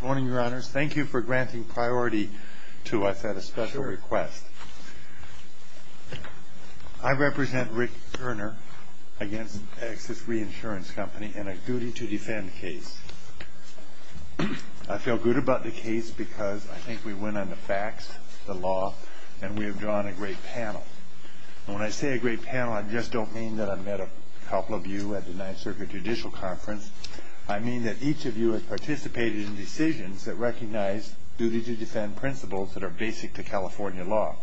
Good morning, Your Honors. Thank you for granting priority to us at a special request. I represent Rick Goerner against Axis Reinsurance Company in a duty to defend case. I feel good about the case because I think we went on the facts, the law, and we have drawn a great panel. And when I say a great panel, I just don't mean that I've met a couple of you at the Ninth Circuit Judicial Conference. I mean that each of you has participated in decisions that recognize duty to defend principles that are basic to California law.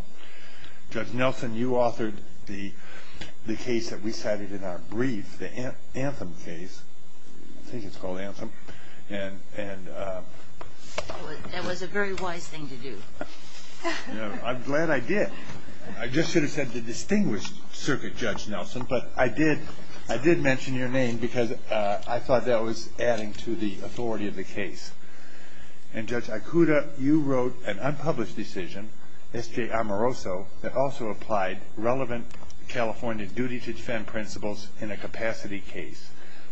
Judge Nelson, you authored the case that we cited in our brief, the Anthem case. I think it's called Anthem. That was a very wise thing to do. I'm glad I did. I just should have said the Distinguished Circuit Judge Nelson. But I did mention your name because I thought that was adding to the authority of the case. And Judge Ikuda, you wrote an unpublished decision, S.J. Amoroso, that also applied relevant California duty to defend principles in a capacity case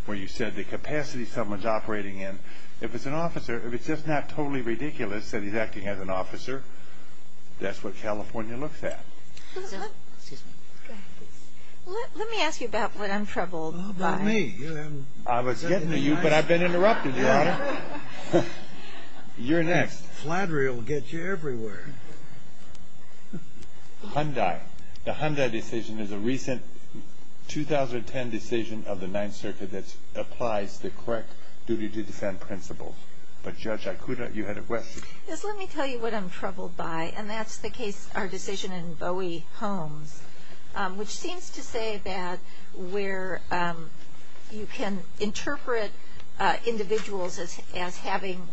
where you said the capacity someone's operating in, if it's an officer, if it's just not totally ridiculous that he's acting as an officer, that's what California looks at. Excuse me. Let me ask you about what I'm troubled by. Not me. I was getting to you, but I've been interrupted, Your Honor. You're next. Flattery will get you everywhere. Hyundai. The Hyundai decision is a recent 2010 decision of the Ninth Circuit that applies the correct duty to defend principles. But Judge Ikuda, you had a question. Yes, let me tell you what I'm troubled by, and that's the case, our decision in Bowie Homes, which seems to say that where you can interpret individuals as having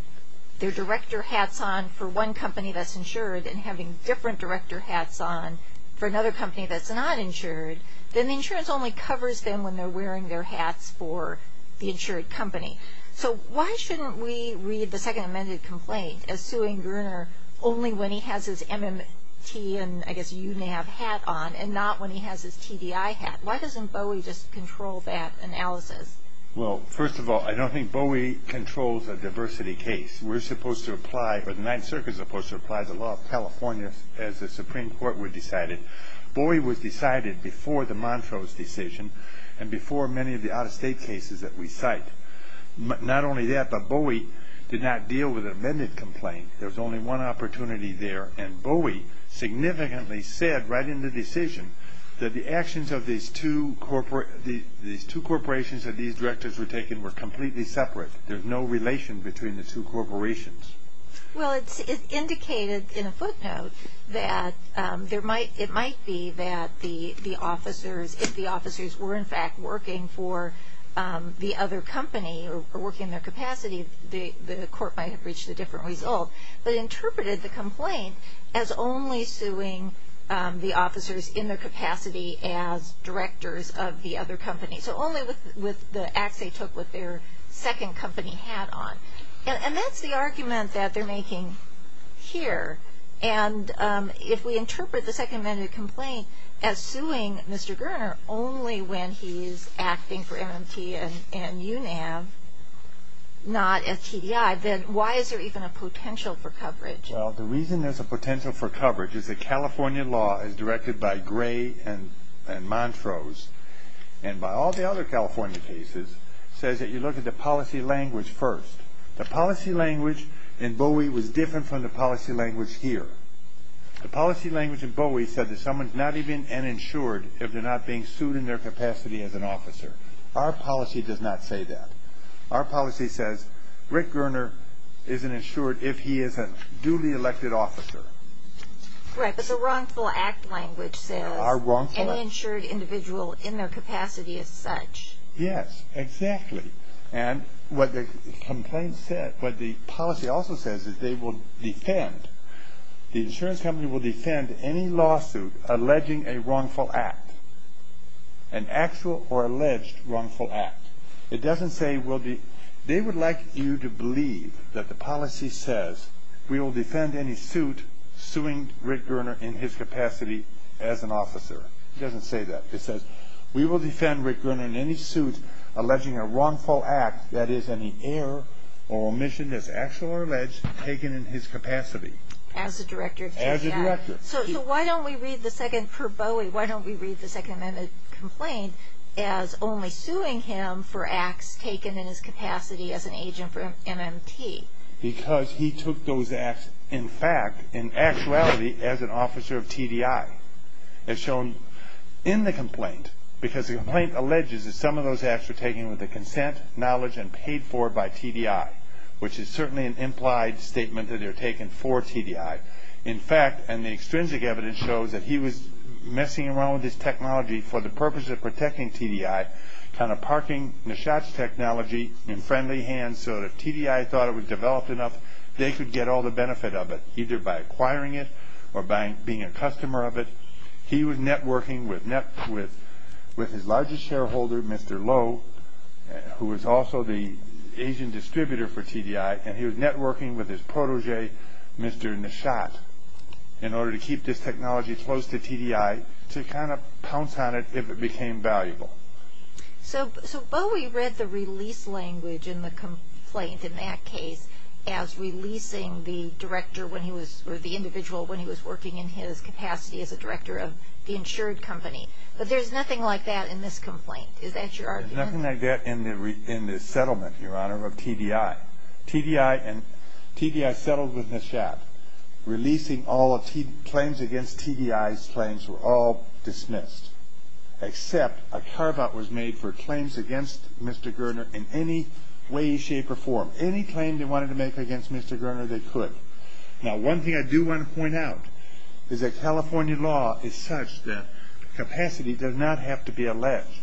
their director hats on for one company that's insured and having different director hats on for another company that's not insured, then the insurance only covers them when they're wearing their hats for the insured company. So why shouldn't we read the Second Amended Complaint as suing Gruner only when he has his MMT and, I guess, UNAV hat on and not when he has his TDI hat? Why doesn't Bowie just control that analysis? Well, first of all, I don't think Bowie controls a diversity case. We're supposed to apply, or the Ninth Circuit's supposed to apply the law of California as the Supreme Court would decide it. Bowie was decided before the Montrose decision and before many of the out-of-state cases that we cite. Not only that, but Bowie did not deal with an amended complaint. There was only one opportunity there, and Bowie significantly said right in the decision that the actions of these two corporations that these directors were taking were completely separate. There's no relation between the two corporations. Well, it's indicated in a footnote that it might be that the officers, if the officers were, in fact, working for the other company or working in their capacity, the court might have reached a different result, but interpreted the complaint as only suing the officers in their capacity as directors of the other company, so only with the acts they took with their second company hat on. And that's the argument that they're making here. And if we interpret the second amended complaint as suing Mr. Gerner only when he's acting for MMT and UNAV, not as TDI, then why is there even a potential for coverage? Well, the reason there's a potential for coverage is that California law is directed by Gray and Montrose, and by all the other California cases, says that you look at the policy language first. The policy language in Bowie was different from the policy language here. The policy language in Bowie said that someone's not even uninsured if they're not being sued in their capacity as an officer. Our policy does not say that. Our policy says Rick Gerner isn't insured if he is a duly elected officer. Right, but the wrongful act language says uninsured individual in their capacity as such. Yes, exactly. And what the policy also says is they will defend, the insurance company will defend any lawsuit alleging a wrongful act, an actual or alleged wrongful act. It doesn't say they would like you to believe that the policy says we will defend any suit suing Rick Gerner in his capacity as an officer. It doesn't say that. It says we will defend Rick Gerner in any suit alleging a wrongful act, that is, any error or omission that's actual or alleged taken in his capacity. As the director of TDI. As the director. So why don't we read the second, for Bowie, why don't we read the Second Amendment complaint as only suing him for acts taken in his capacity as an agent for MMT? Because he took those acts in fact, in actuality, as an officer of TDI. As shown in the complaint, because the complaint alleges that some of those acts were taken with the consent, knowledge, and paid for by TDI, which is certainly an implied statement that they're taken for TDI. In fact, and the extrinsic evidence shows that he was messing around with this technology for the purpose of protecting TDI, kind of parking the shots technology in friendly hands so that if TDI thought it was developed enough, they could get all the benefit of it, either by acquiring it or by being a customer of it. He was networking with his largest shareholder, Mr. Lowe, who was also the agent distributor for TDI, and he was networking with his protégé, Mr. Nishat, in order to keep this technology close to TDI to kind of pounce on it if it became valuable. So Bowie read the release language in the complaint in that case as releasing the director when he was, or the individual when he was working in his capacity as a director of the insured company. But there's nothing like that in this complaint. Is that your argument? There's nothing like that in the settlement, Your Honor, of TDI. TDI and, TDI settled with Nishat. Releasing all claims against TDI's claims were all dismissed, except a carve-out was made for claims against Mr. Goerner in any way, shape, or form. Any claim they wanted to make against Mr. Goerner, they could. Now, one thing I do want to point out is that California law is such that capacity does not have to be alleged,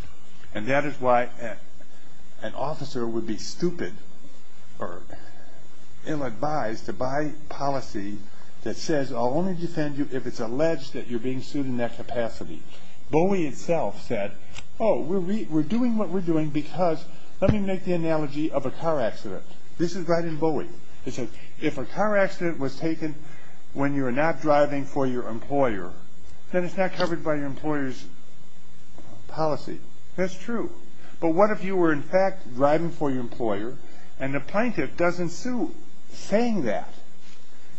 and that is why an officer would be stupid or ill-advised to buy policy that says, I'll only defend you if it's alleged that you're being sued in that capacity. Bowie itself said, oh, we're doing what we're doing because, let me make the analogy of a car accident. This is right in Bowie. It says, if a car accident was taken when you're not driving for your employer, then it's not covered by your employer's policy. That's true. But what if you were, in fact, driving for your employer, and the plaintiff doesn't sue, saying that?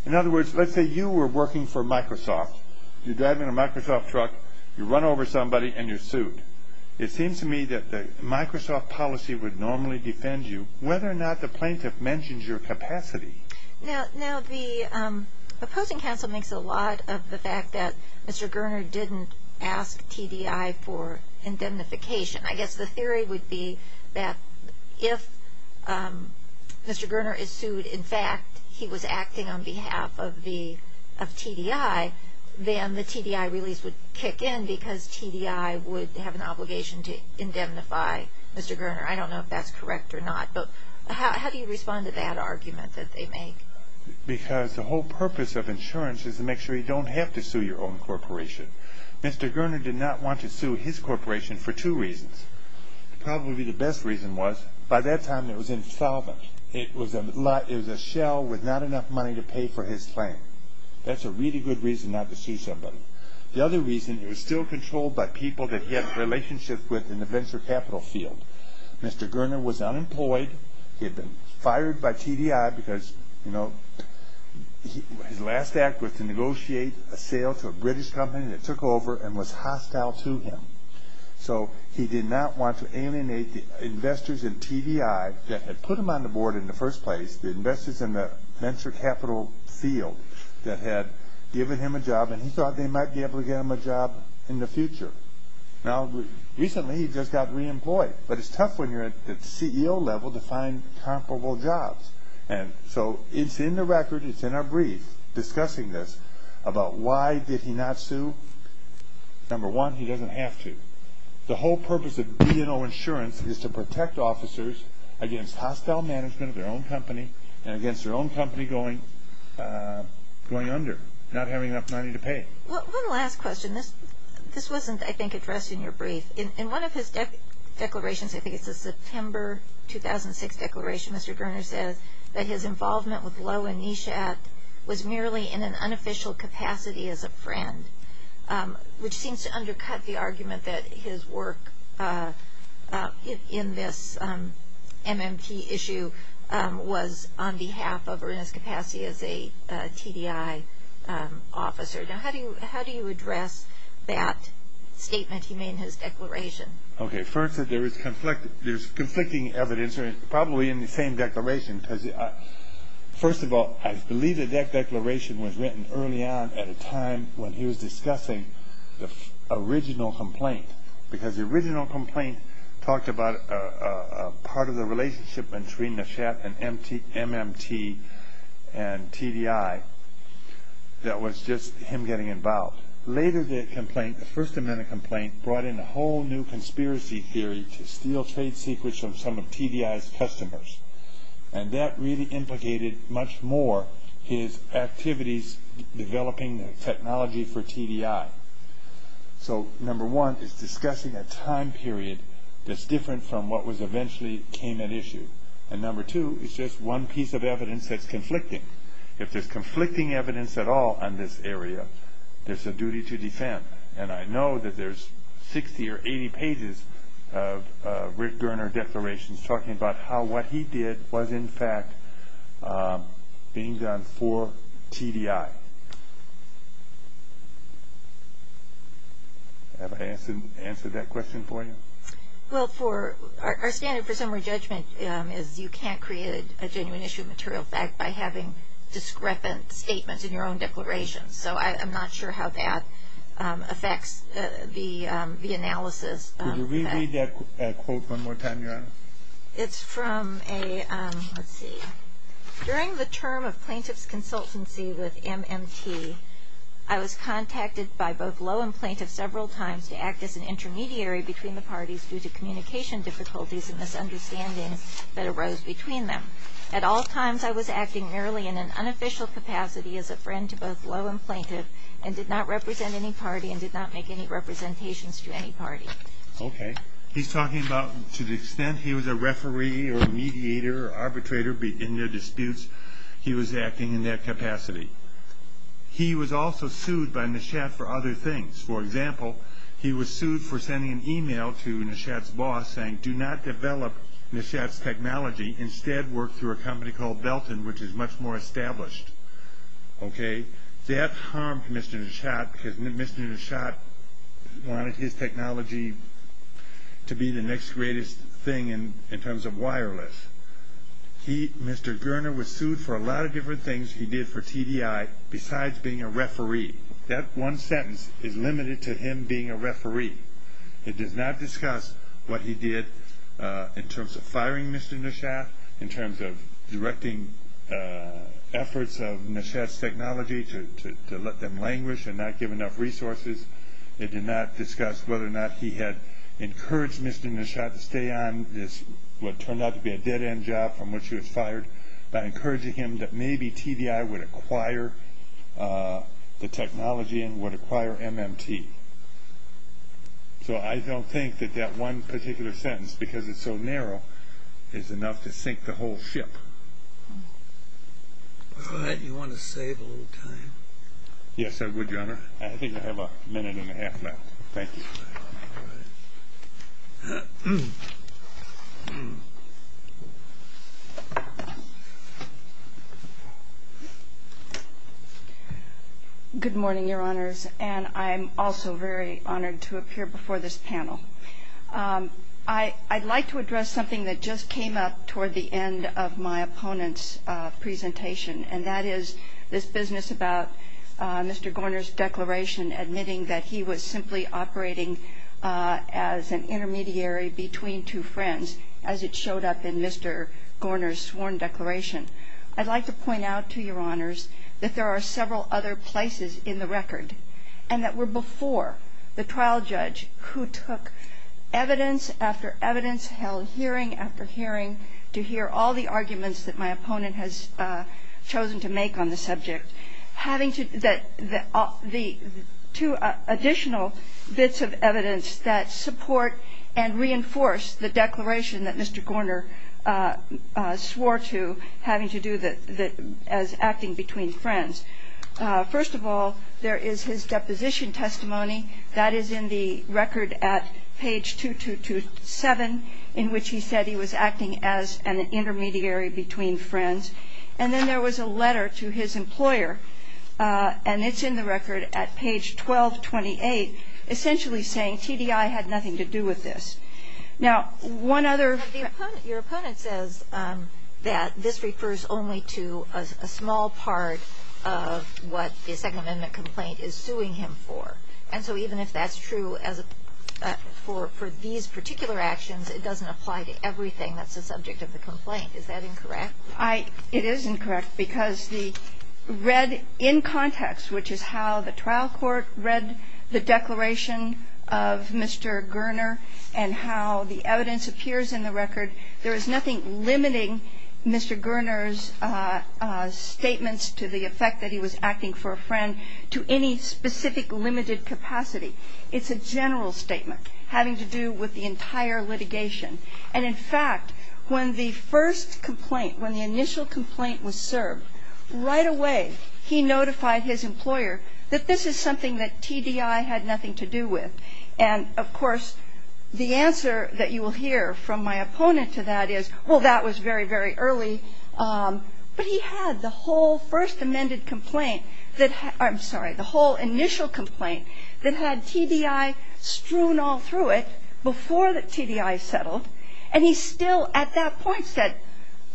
In other words, let's say you were working for Microsoft. You're driving a Microsoft truck, you run over somebody, and you're sued. It seems to me that the Microsoft policy would normally defend you, whether or not the plaintiff mentions your capacity. Now, the opposing counsel makes a lot of the fact that Mr. Goerner didn't ask TDI for indemnification. I guess the theory would be that if Mr. Goerner is sued, in fact, he was acting on behalf of TDI, then the TDI release would kick in because TDI would have an obligation to indemnify Mr. Goerner. I don't know if that's correct or not, but how do you respond to that argument that they make? Because the whole purpose of insurance is to make sure you don't have to sue your own corporation. Mr. Goerner did not want to sue his corporation for two reasons. Probably the best reason was, by that time, it was insolvent. It was a shell with not enough money to pay for his claim. That's a really good reason not to sue somebody. The other reason, it was still controlled by people that he had a relationship with in the venture capital field. Mr. Goerner was unemployed. He had been fired by TDI because his last act was to negotiate a sale to a British company that took over and was hostile to him. So he did not want to alienate the investors in TDI that had put him on the board in the first place, the investors in the venture capital field that had given him a job, and he thought they might be able to get him a job in the future. Now, recently, he just got reemployed, but it's tough when you're at the CEO level to find comparable jobs. And so it's in the record, it's in our brief discussing this, about why did he not sue. Number one, he doesn't have to. The whole purpose of B&O Insurance is to protect officers against hostile management of their own company and against their own company going under, not having enough money to pay. One last question. This wasn't, I think, addressed in your brief. In one of his declarations, I think it's a September 2006 declaration, Mr. Goerner says that his involvement with Lowe and Nishat was merely in an unofficial capacity as a friend, which seems to undercut the argument that his work in this MMT issue was on behalf of or in his capacity as a TDI officer. Now, how do you address that statement he made in his declaration? Okay, first, there is conflicting evidence, probably in the same declaration. First of all, I believe the declaration was written early on at a time when he was discussing the original complaint, because the original complaint talked about part of the relationship between Nishat and MMT and TDI that was just him getting involved. Later, the complaint, the First Amendment complaint, brought in a whole new conspiracy theory to steal trade secrets from some of TDI's customers. And that really implicated much more his activities developing technology for TDI. So, number one, it's discussing a time period that's different from what was eventually came at issue. And number two, it's just one piece of evidence that's conflicting. If there's conflicting evidence at all on this area, there's a duty to defend. And I know that there's 60 or 80 pages of Rick Gerner declarations talking about how what he did was, in fact, being done for TDI. Have I answered that question for you? Well, our standard for summary judgment is you can't create a genuine issue of material fact by having discrepant statements in your own declaration. So, I'm not sure how that affects the analysis. Could you re-read that quote one more time, Your Honor? It's from a, let's see. During the term of plaintiff's consultancy with MMT, I was contacted by both low and plaintiff several times to act as an intermediary between the parties due to communication difficulties and misunderstandings that arose between them. At all times, I was acting merely in an unofficial capacity as a friend to both low and plaintiff and did not represent any party and did not make any representations to any party. Okay. He's talking about to the extent he was a referee or a mediator or arbitrator in their disputes, he was acting in that capacity. He was also sued by Nishat for other things. For example, he was sued for sending an email to Nishat's boss saying, do not develop Nishat's technology. Instead, work through a company called Belton, which is much more established. Okay. That harmed Mr. Nishat because Mr. Nishat wanted his technology to be the next greatest thing in terms of wireless. He, Mr. Goerner, was sued for a lot of different things he did for TDI besides being a referee. That one sentence is limited to him being a referee. It does not discuss what he did in terms of firing Mr. Nishat, in terms of directing efforts of Nishat's technology to let them languish and not give enough resources. It did not discuss whether or not he had encouraged Mr. Nishat to stay on this, what turned out to be a dead-end job from which he was fired, by encouraging him that maybe TDI would acquire the technology and would acquire MMT. So I don't think that that one particular sentence, because it's so narrow, is enough to sink the whole ship. All right. You want to save a little time? Yes, I would, Your Honor. I think I have a minute and a half left. Thank you. All right. Good morning, Your Honors. And I'm also very honored to appear before this panel. I'd like to address something that just came up toward the end of my opponent's presentation, and that is this business about Mr. Gorner's declaration admitting that he was simply operating as an intermediary between two friends, as it showed up in Mr. Gorner's sworn declaration. I'd like to point out to Your Honors that there are several other places in the record and that were before the trial judge who took evidence after evidence, held hearing after hearing, to hear all the arguments that my opponent has chosen to make on the subject. The two additional bits of evidence that support and reinforce the declaration that Mr. Gorner swore to having to do as acting between friends. First of all, there is his deposition testimony. That is in the record at page 2227, in which he said he was acting as an intermediary between friends. And then there was a letter to his employer, and it's in the record at page 1228, essentially saying TDI had nothing to do with this. Now, one other ---- Your opponent says that this refers only to a small part of what the Second Amendment complaint is suing him for. And so even if that's true as a ---- for these particular actions, it doesn't apply to everything that's the subject of the complaint. Is that incorrect? I ---- it is incorrect because the read in context, which is how the trial court read the declaration of Mr. Gorner and how the evidence appears in the record, there is nothing limiting Mr. Gorner's statements to the effect that he was acting for a friend to any specific limited capacity. It's a general statement having to do with the entire litigation. And, in fact, when the first complaint, when the initial complaint was served, right away he notified his employer that this is something that TDI had nothing to do with. And, of course, the answer that you will hear from my opponent to that is, well, that was very, very early. But he had the whole first amended complaint that ---- I'm sorry, the whole initial complaint that had TDI strewn all through it before the TDI settled. And he still at that point said,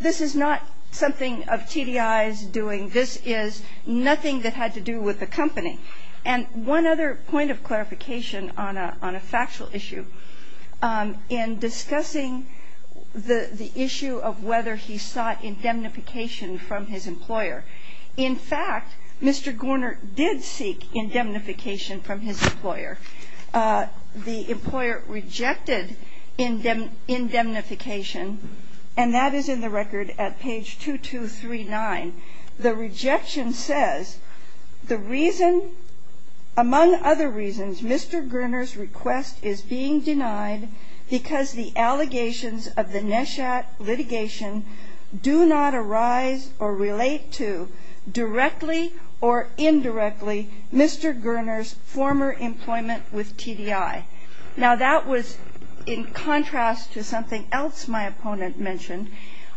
this is not something of TDI's doing. This is nothing that had to do with the company. And one other point of clarification on a factual issue, in discussing the issue of whether he sought indemnification from his employer. In fact, Mr. Gorner did seek indemnification from his employer. The employer rejected indemnification, and that is in the record at page 2239. The rejection says, the reason, among other reasons, Mr. Gorner's request is being denied because the allegations of the NESHAT litigation do not arise or relate to, directly or indirectly, Mr. Gorner's former employment with TDI. Now, that was in contrast to something else my opponent mentioned.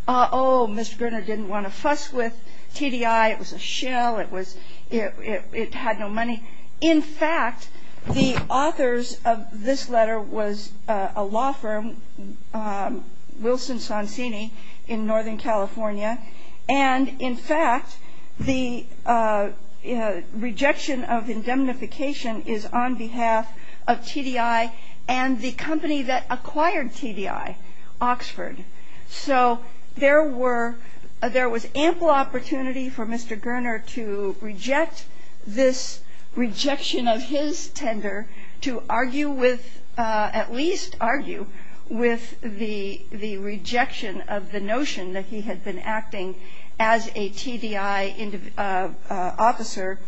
Oh, Mr. Gorner didn't want to fuss with TDI. It was a shell. It was ---- it had no money. In fact, the authors of this letter was a law firm, Wilson-Sonsini, in Northern California. And in fact, the rejection of indemnification is on behalf of TDI and the company that acquired TDI, Oxford. So there were ---- there was ample opportunity for Mr. Gorner to reject this rejection of his tender, to argue with ---- at least argue with the rejection of the notion that he had been acting as a TDI officer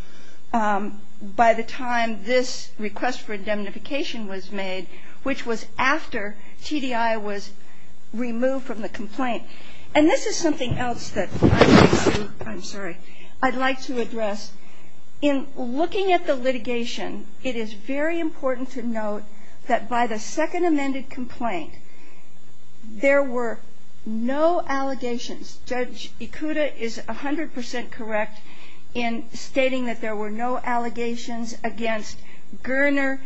by the time this request for indemnification was made, which was after TDI was removed from the complaint. And this is something else that I'd like to ---- I'm sorry. I'd like to address. In looking at the litigation, it is very important to note that by the second amended complaint, there were no allegations. Judge Ikuda is 100% correct in stating that there were no allegations against Gorner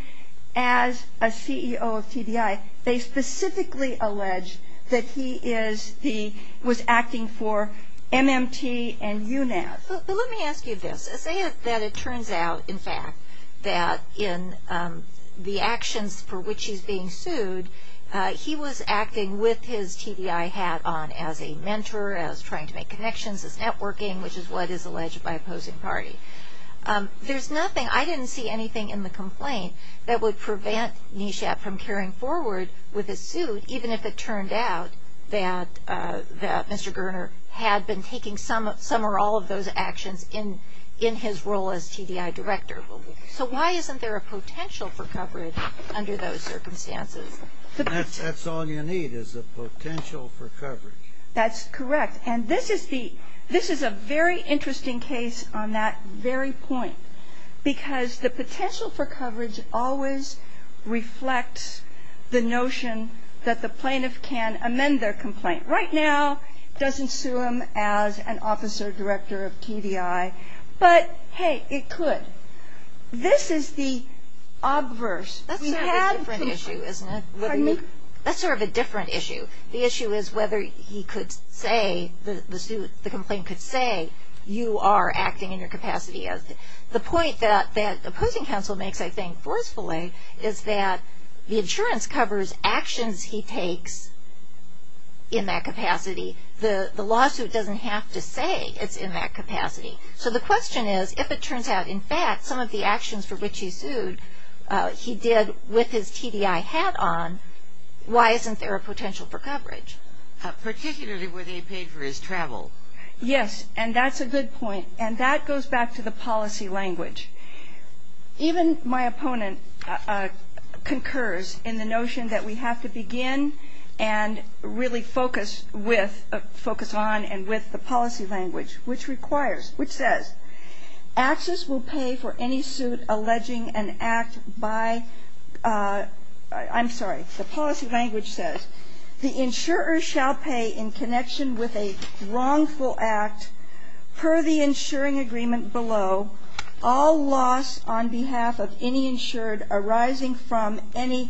as a CEO of TDI. They specifically allege that he is the ---- was acting for MMT and UNAS. But let me ask you this. Say that it turns out, in fact, that in the actions for which he's being sued, he was acting with his TDI hat on as a mentor, as trying to make connections, as networking, which is what is alleged by opposing party. There's nothing ---- I didn't see anything in the complaint that would prevent NESHAP from carrying forward with his suit, even if it turned out that Mr. Gorner had been taking some or all of those actions in his role as TDI director. So why isn't there a potential for coverage under those circumstances? That's all you need is a potential for coverage. That's correct. And this is the ---- this is a very interesting case on that very point, because the potential for coverage always reflects the notion that the plaintiff can amend their complaint. Right now, doesn't sue him as an officer director of TDI. But, hey, it could. This is the obverse. That's sort of a different issue, isn't it? Pardon me? That's sort of a different issue. The issue is whether he could say, the complaint could say, you are acting in your capacity. The point that opposing counsel makes, I think, forcefully, is that the insurance covers actions he takes in that capacity. The lawsuit doesn't have to say it's in that capacity. So the question is, if it turns out, in fact, some of the actions for which he sued, he did with his TDI hat on, why isn't there a potential for coverage? Particularly where they paid for his travel. Yes, and that's a good point. And that goes back to the policy language. Even my opponent concurs in the notion that we have to begin and really focus with or focus on and with the policy language, which requires, which says, access will pay for any suit alleging an act by, I'm sorry, the policy language says, the insurer shall pay in connection with a wrongful act per the insuring agreement below all loss on behalf of any insured arising from any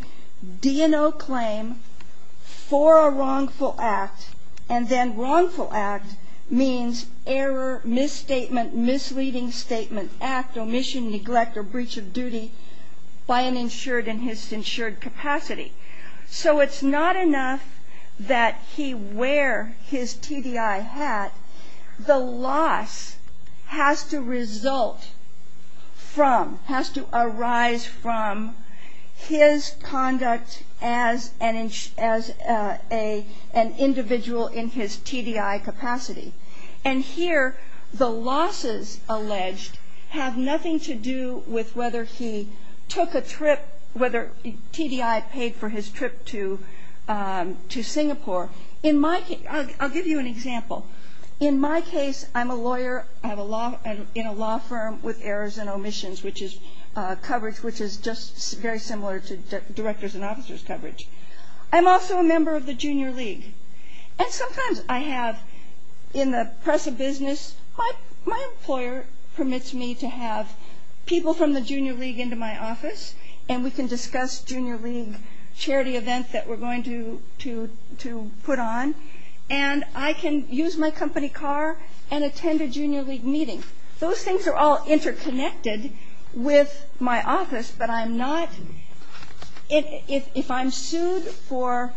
D&O claim for a wrongful act. And then wrongful act means error, misstatement, misleading statement, act, omission, neglect, or breach of duty by an insured in his insured capacity. So it's not enough that he wear his TDI hat. The loss has to result from, has to arise from his conduct as an individual in his TDI capacity. And here the losses alleged have nothing to do with whether he took a trip, whether TDI paid for his trip to Singapore. In my case, I'll give you an example. In my case, I'm a lawyer. I have a law, in a law firm with errors and omissions, which is coverage, which is just very similar to directors and officers' coverage. I'm also a member of the Junior League. And sometimes I have in the press of business, my employer permits me to have people from the Junior League into my office, and we can discuss Junior League charity events that we're going to put on. And I can use my company car and attend a Junior League meeting. Those things are all interconnected with my office, but I'm not, if I'm sued for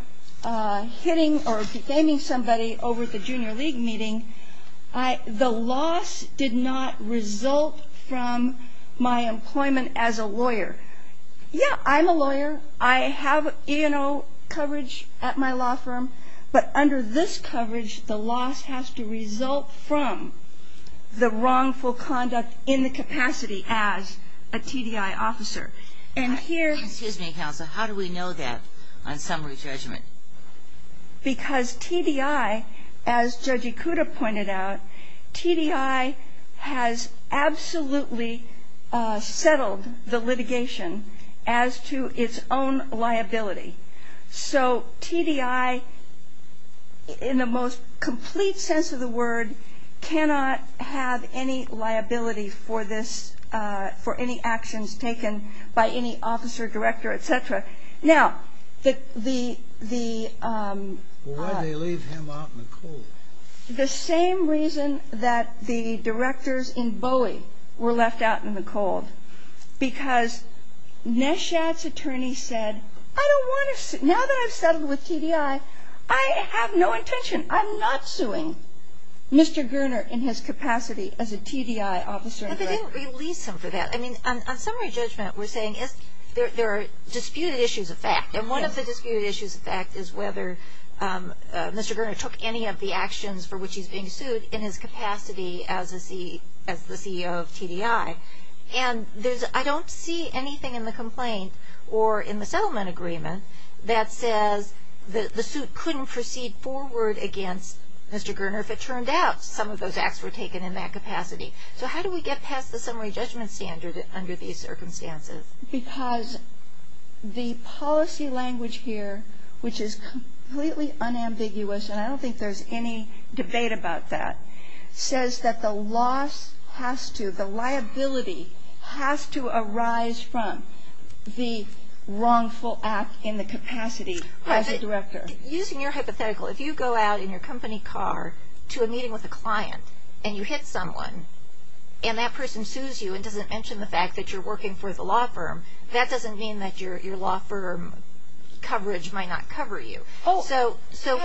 hitting or defaming somebody over the Junior League meeting, the loss did not result from my employment as a lawyer. Yeah, I'm a lawyer. I have E&O coverage at my law firm. But under this coverage, the loss has to result from the wrongful conduct in the capacity as a TDI officer. And here ‑‑ Excuse me, Counsel. How do we know that on summary judgment? Because TDI, as Judge Ikuda pointed out, TDI has absolutely settled the litigation as to its own liability. So TDI, in the most complete sense of the word, cannot have any liability for any actions taken by any officer, director, et cetera. Now, the ‑‑ Why did they leave him out in the cold? The same reason that the directors in Bowie were left out in the cold, because Neshat's attorney said, I don't want to, now that I've settled with TDI, I have no intention, I'm not suing Mr. Gurner in his capacity as a TDI officer. But they didn't release him for that. Well, I mean, on summary judgment, we're saying there are disputed issues of fact. And one of the disputed issues of fact is whether Mr. Gurner took any of the actions for which he's being sued in his capacity as the CEO of TDI. And I don't see anything in the complaint or in the settlement agreement that says the suit couldn't proceed forward against Mr. Gurner if it turned out some of those acts were taken in that capacity. So how do we get past the summary judgment standard under these circumstances? Because the policy language here, which is completely unambiguous, and I don't think there's any debate about that, says that the loss has to, the liability has to arise from the wrongful act in the capacity as a director. Using your hypothetical, if you go out in your company car to a meeting with a client and you hit someone and that person sues you and doesn't mention the fact that you're working for the law firm, that doesn't mean that your law firm coverage might not cover you. So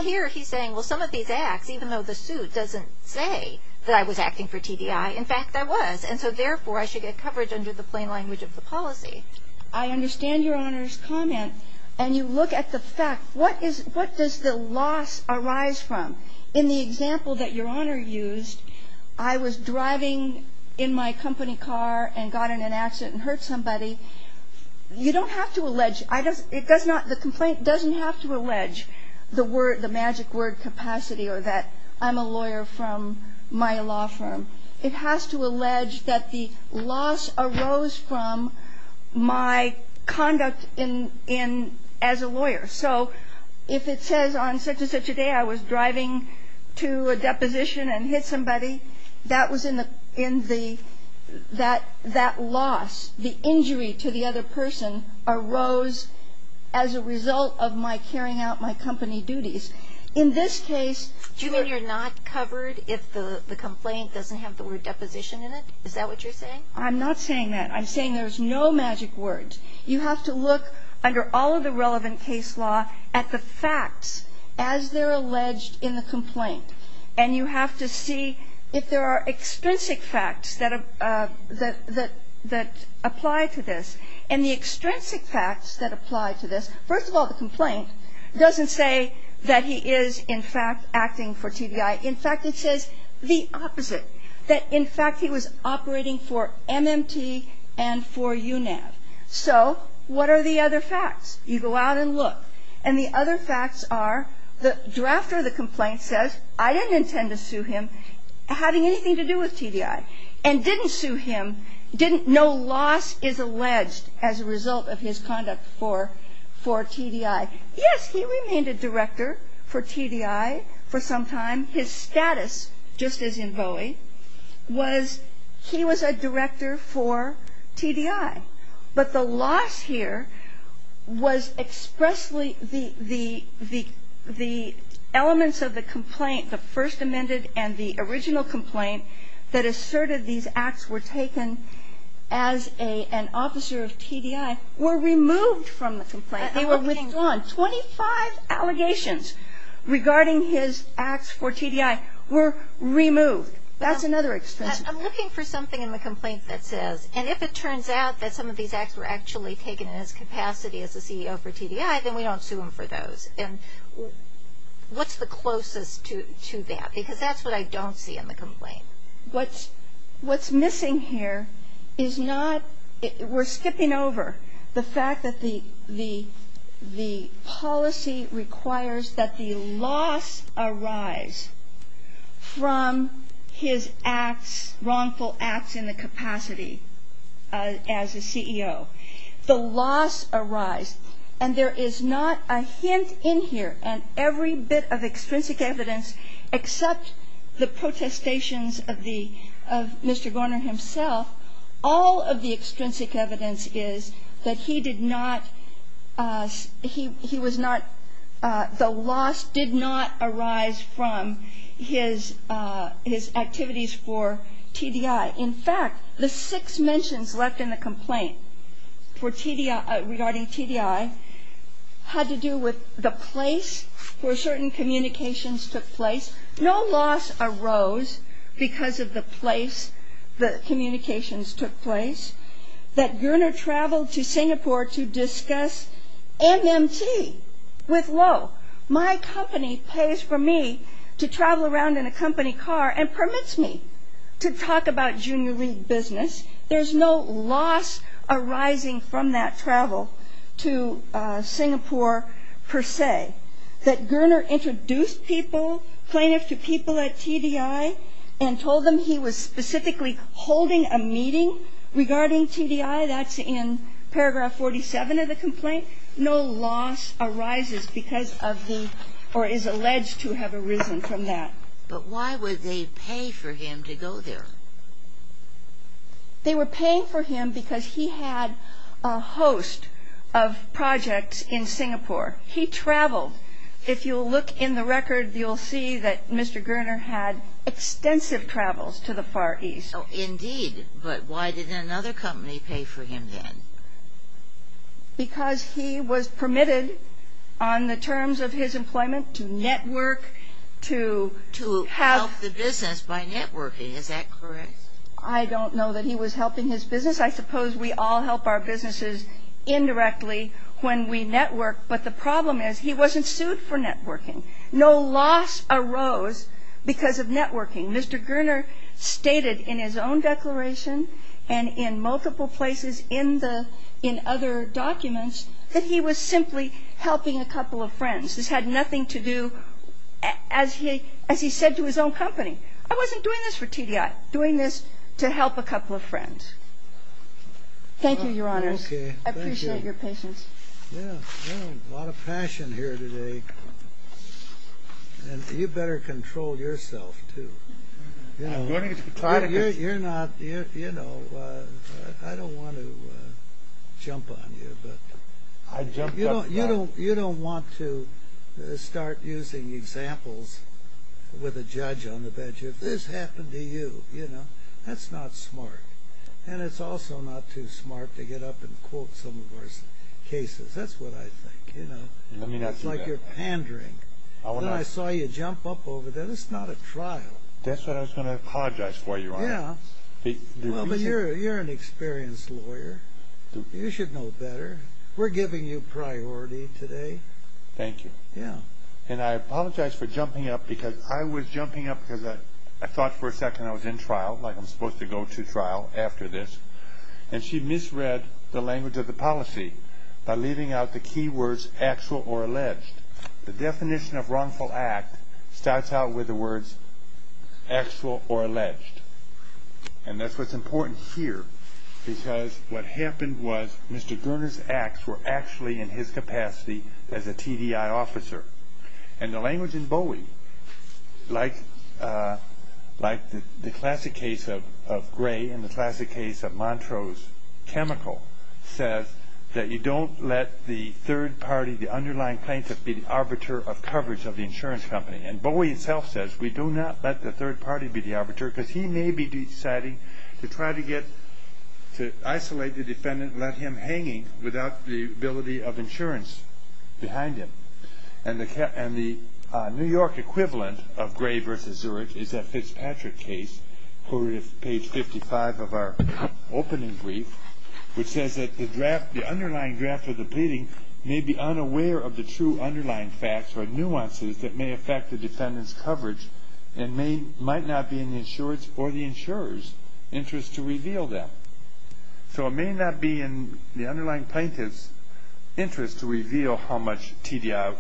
here he's saying, well, some of these acts, even though the suit doesn't say that I was acting for TDI, in fact, I was. And so, therefore, I should get coverage under the plain language of the policy. I understand Your Honor's comment. And you look at the fact, what does the loss arise from? In the example that Your Honor used, I was driving in my company car and got in an accident and hurt somebody. You don't have to allege, it does not, the complaint doesn't have to allege the magic word capacity or that I'm a lawyer from my law firm. It has to allege that the loss arose from my conduct as a lawyer. So if it says on such-and-such a day I was driving to a deposition and hit somebody, that was in the ‑‑ that loss, the injury to the other person, arose as a result of my carrying out my company duties. In this case ‑‑ Do you mean you're not covered if the complaint doesn't have the word deposition in it? Is that what you're saying? I'm not saying that. I'm saying there's no magic words. You have to look, under all of the relevant case law, at the facts as they're alleged in the complaint. And you have to see if there are extrinsic facts that apply to this. And the extrinsic facts that apply to this, first of all, the complaint doesn't say that he is, in fact, acting for TBI. In fact, it says the opposite, that, in fact, he was operating for MMT and for UNAV. So what are the other facts? You go out and look. And the other facts are, the drafter of the complaint says, I didn't intend to sue him having anything to do with TBI. And didn't sue him, no loss is alleged as a result of his conduct for TBI. Yes, he remained a director for TBI for some time. His status, just as in Bowie, was he was a director for TBI. But the loss here was expressly the elements of the complaint, the first amended and the original complaint, that asserted these acts were taken as an officer of TBI, were removed from the complaint. Twenty-five allegations regarding his acts for TBI were removed. That's another extrinsic fact. I'm looking for something in the complaint that says, and if it turns out that some of these acts were actually taken in his capacity as a CEO for TBI, then we don't sue him for those. And what's the closest to that? Because that's what I don't see in the complaint. What's missing here is not, we're skipping over the fact that the policy requires that the loss arise from his acts, wrongful acts in the capacity as a CEO. The loss arise. And there is not a hint in here, and every bit of extrinsic evidence except the protestations of Mr. Garner himself, all of the extrinsic evidence is that he did not, he was not, the loss did not arise from his activities for TBI. In fact, the six mentions left in the complaint regarding TBI had to do with the place where certain communications took place. No loss arose because of the place the communications took place, that Garner traveled to Singapore to discuss MMT with Lowe. My company pays for me to travel around in a company car and permits me to talk about Junior League business. There's no loss arising from that travel to Singapore per se. That Garner introduced people, plaintiffs to people at TBI, and told them he was specifically holding a meeting regarding TBI, that's in paragraph 47 of the complaint. No loss arises because of the, or is alleged to have arisen from that. But why would they pay for him to go there? They were paying for him because he had a host of projects in Singapore. He traveled. If you'll look in the record, you'll see that Mr. Garner had extensive travels to the Far East. Oh, indeed. But why did another company pay for him then? Because he was permitted on the terms of his employment to network, to have the business by networking. Is that correct? I don't know that he was helping his business. I suppose we all help our businesses indirectly when we network. But the problem is he wasn't sued for networking. No loss arose because of networking. Mr. Garner stated in his own declaration and in multiple places in the, in other documents that he was simply helping a couple of friends. This had nothing to do, as he said to his own company, I wasn't doing this for TBI, doing this to help a couple of friends. Thank you, Your Honors. Okay. Thank you. I appreciate your patience. Yeah. A lot of passion here today. And you better control yourself, too. You know, you're not, you know, I don't want to jump on you. But you don't want to start using examples with a judge on the bench. If this happened to you, you know, that's not smart. And it's also not too smart to get up and quote some of our cases. That's what I think, you know. Let me not do that. It's like you're pandering. Then I saw you jump up over that. It's not a trial. That's what I was going to apologize for, Your Honor. Yeah. But you're an experienced lawyer. You should know better. We're giving you priority today. Thank you. Yeah. And I apologize for jumping up because I was jumping up because I thought for a second I was in trial, like I'm supposed to go to trial after this. And she misread the language of the policy by leaving out the key words actual or alleged. The definition of wrongful act starts out with the words actual or alleged. And that's what's important here because what happened was Mr. Garner's acts were actually in his capacity as a TDI officer. And the language in Bowie, like the classic case of Gray and the classic case of Montrose Chemical, says that you don't let the third party, the underlying plaintiff be the arbiter of coverage of the insurance company. And Bowie himself says we do not let the third party be the arbiter because he may be deciding to try to isolate the defendant and let him hanging without the ability of insurance behind him. And the New York equivalent of Gray v. Zurich is that Fitzpatrick case over at page 55 of our opening brief, which says that the draft, the underlying draft of the pleading, may be unaware of the true underlying facts or nuances that may affect the defendant's coverage and may, might not be in the insurer's or the insurer's interest to reveal them. So it may not be in the underlying plaintiff's interest to reveal how much TDI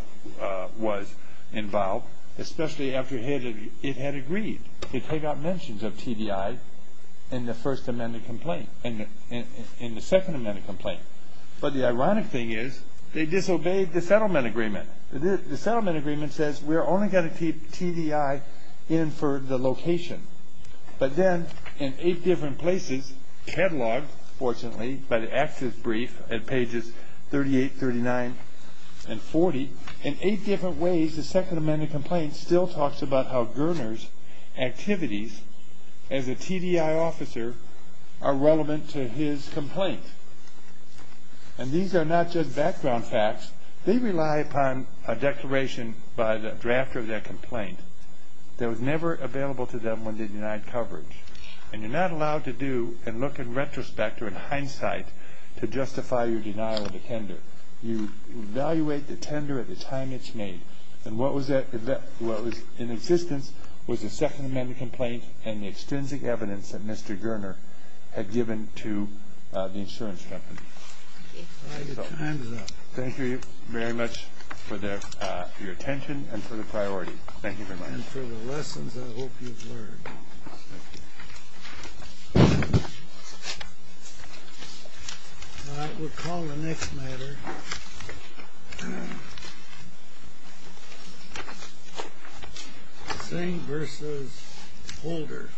was involved, especially after it had agreed to take out mentions of TDI in the first amended complaint, in the second amended complaint. But the ironic thing is they disobeyed the settlement agreement. The settlement agreement says we're only going to keep TDI in for the location. But then in eight different places cataloged, fortunately, by the active brief at pages 38, 39, and 40, in eight different ways the second amended complaint still talks about how Goerner's activities as a TDI officer are relevant to his complaint. And these are not just background facts. They rely upon a declaration by the drafter of that complaint that was never available to them when they denied coverage. And you're not allowed to do and look in retrospect or in hindsight to justify your denial of the tender. You evaluate the tender at the time it's made. And what was in existence was the second amended complaint and the extensive evidence that Mr. Goerner had given to the insurance company. Thank you very much for your attention and for the priority. Thank you very much. And for the lessons I hope you've learned. All right. We'll call the next matter. Singh v. Holder. Thank you.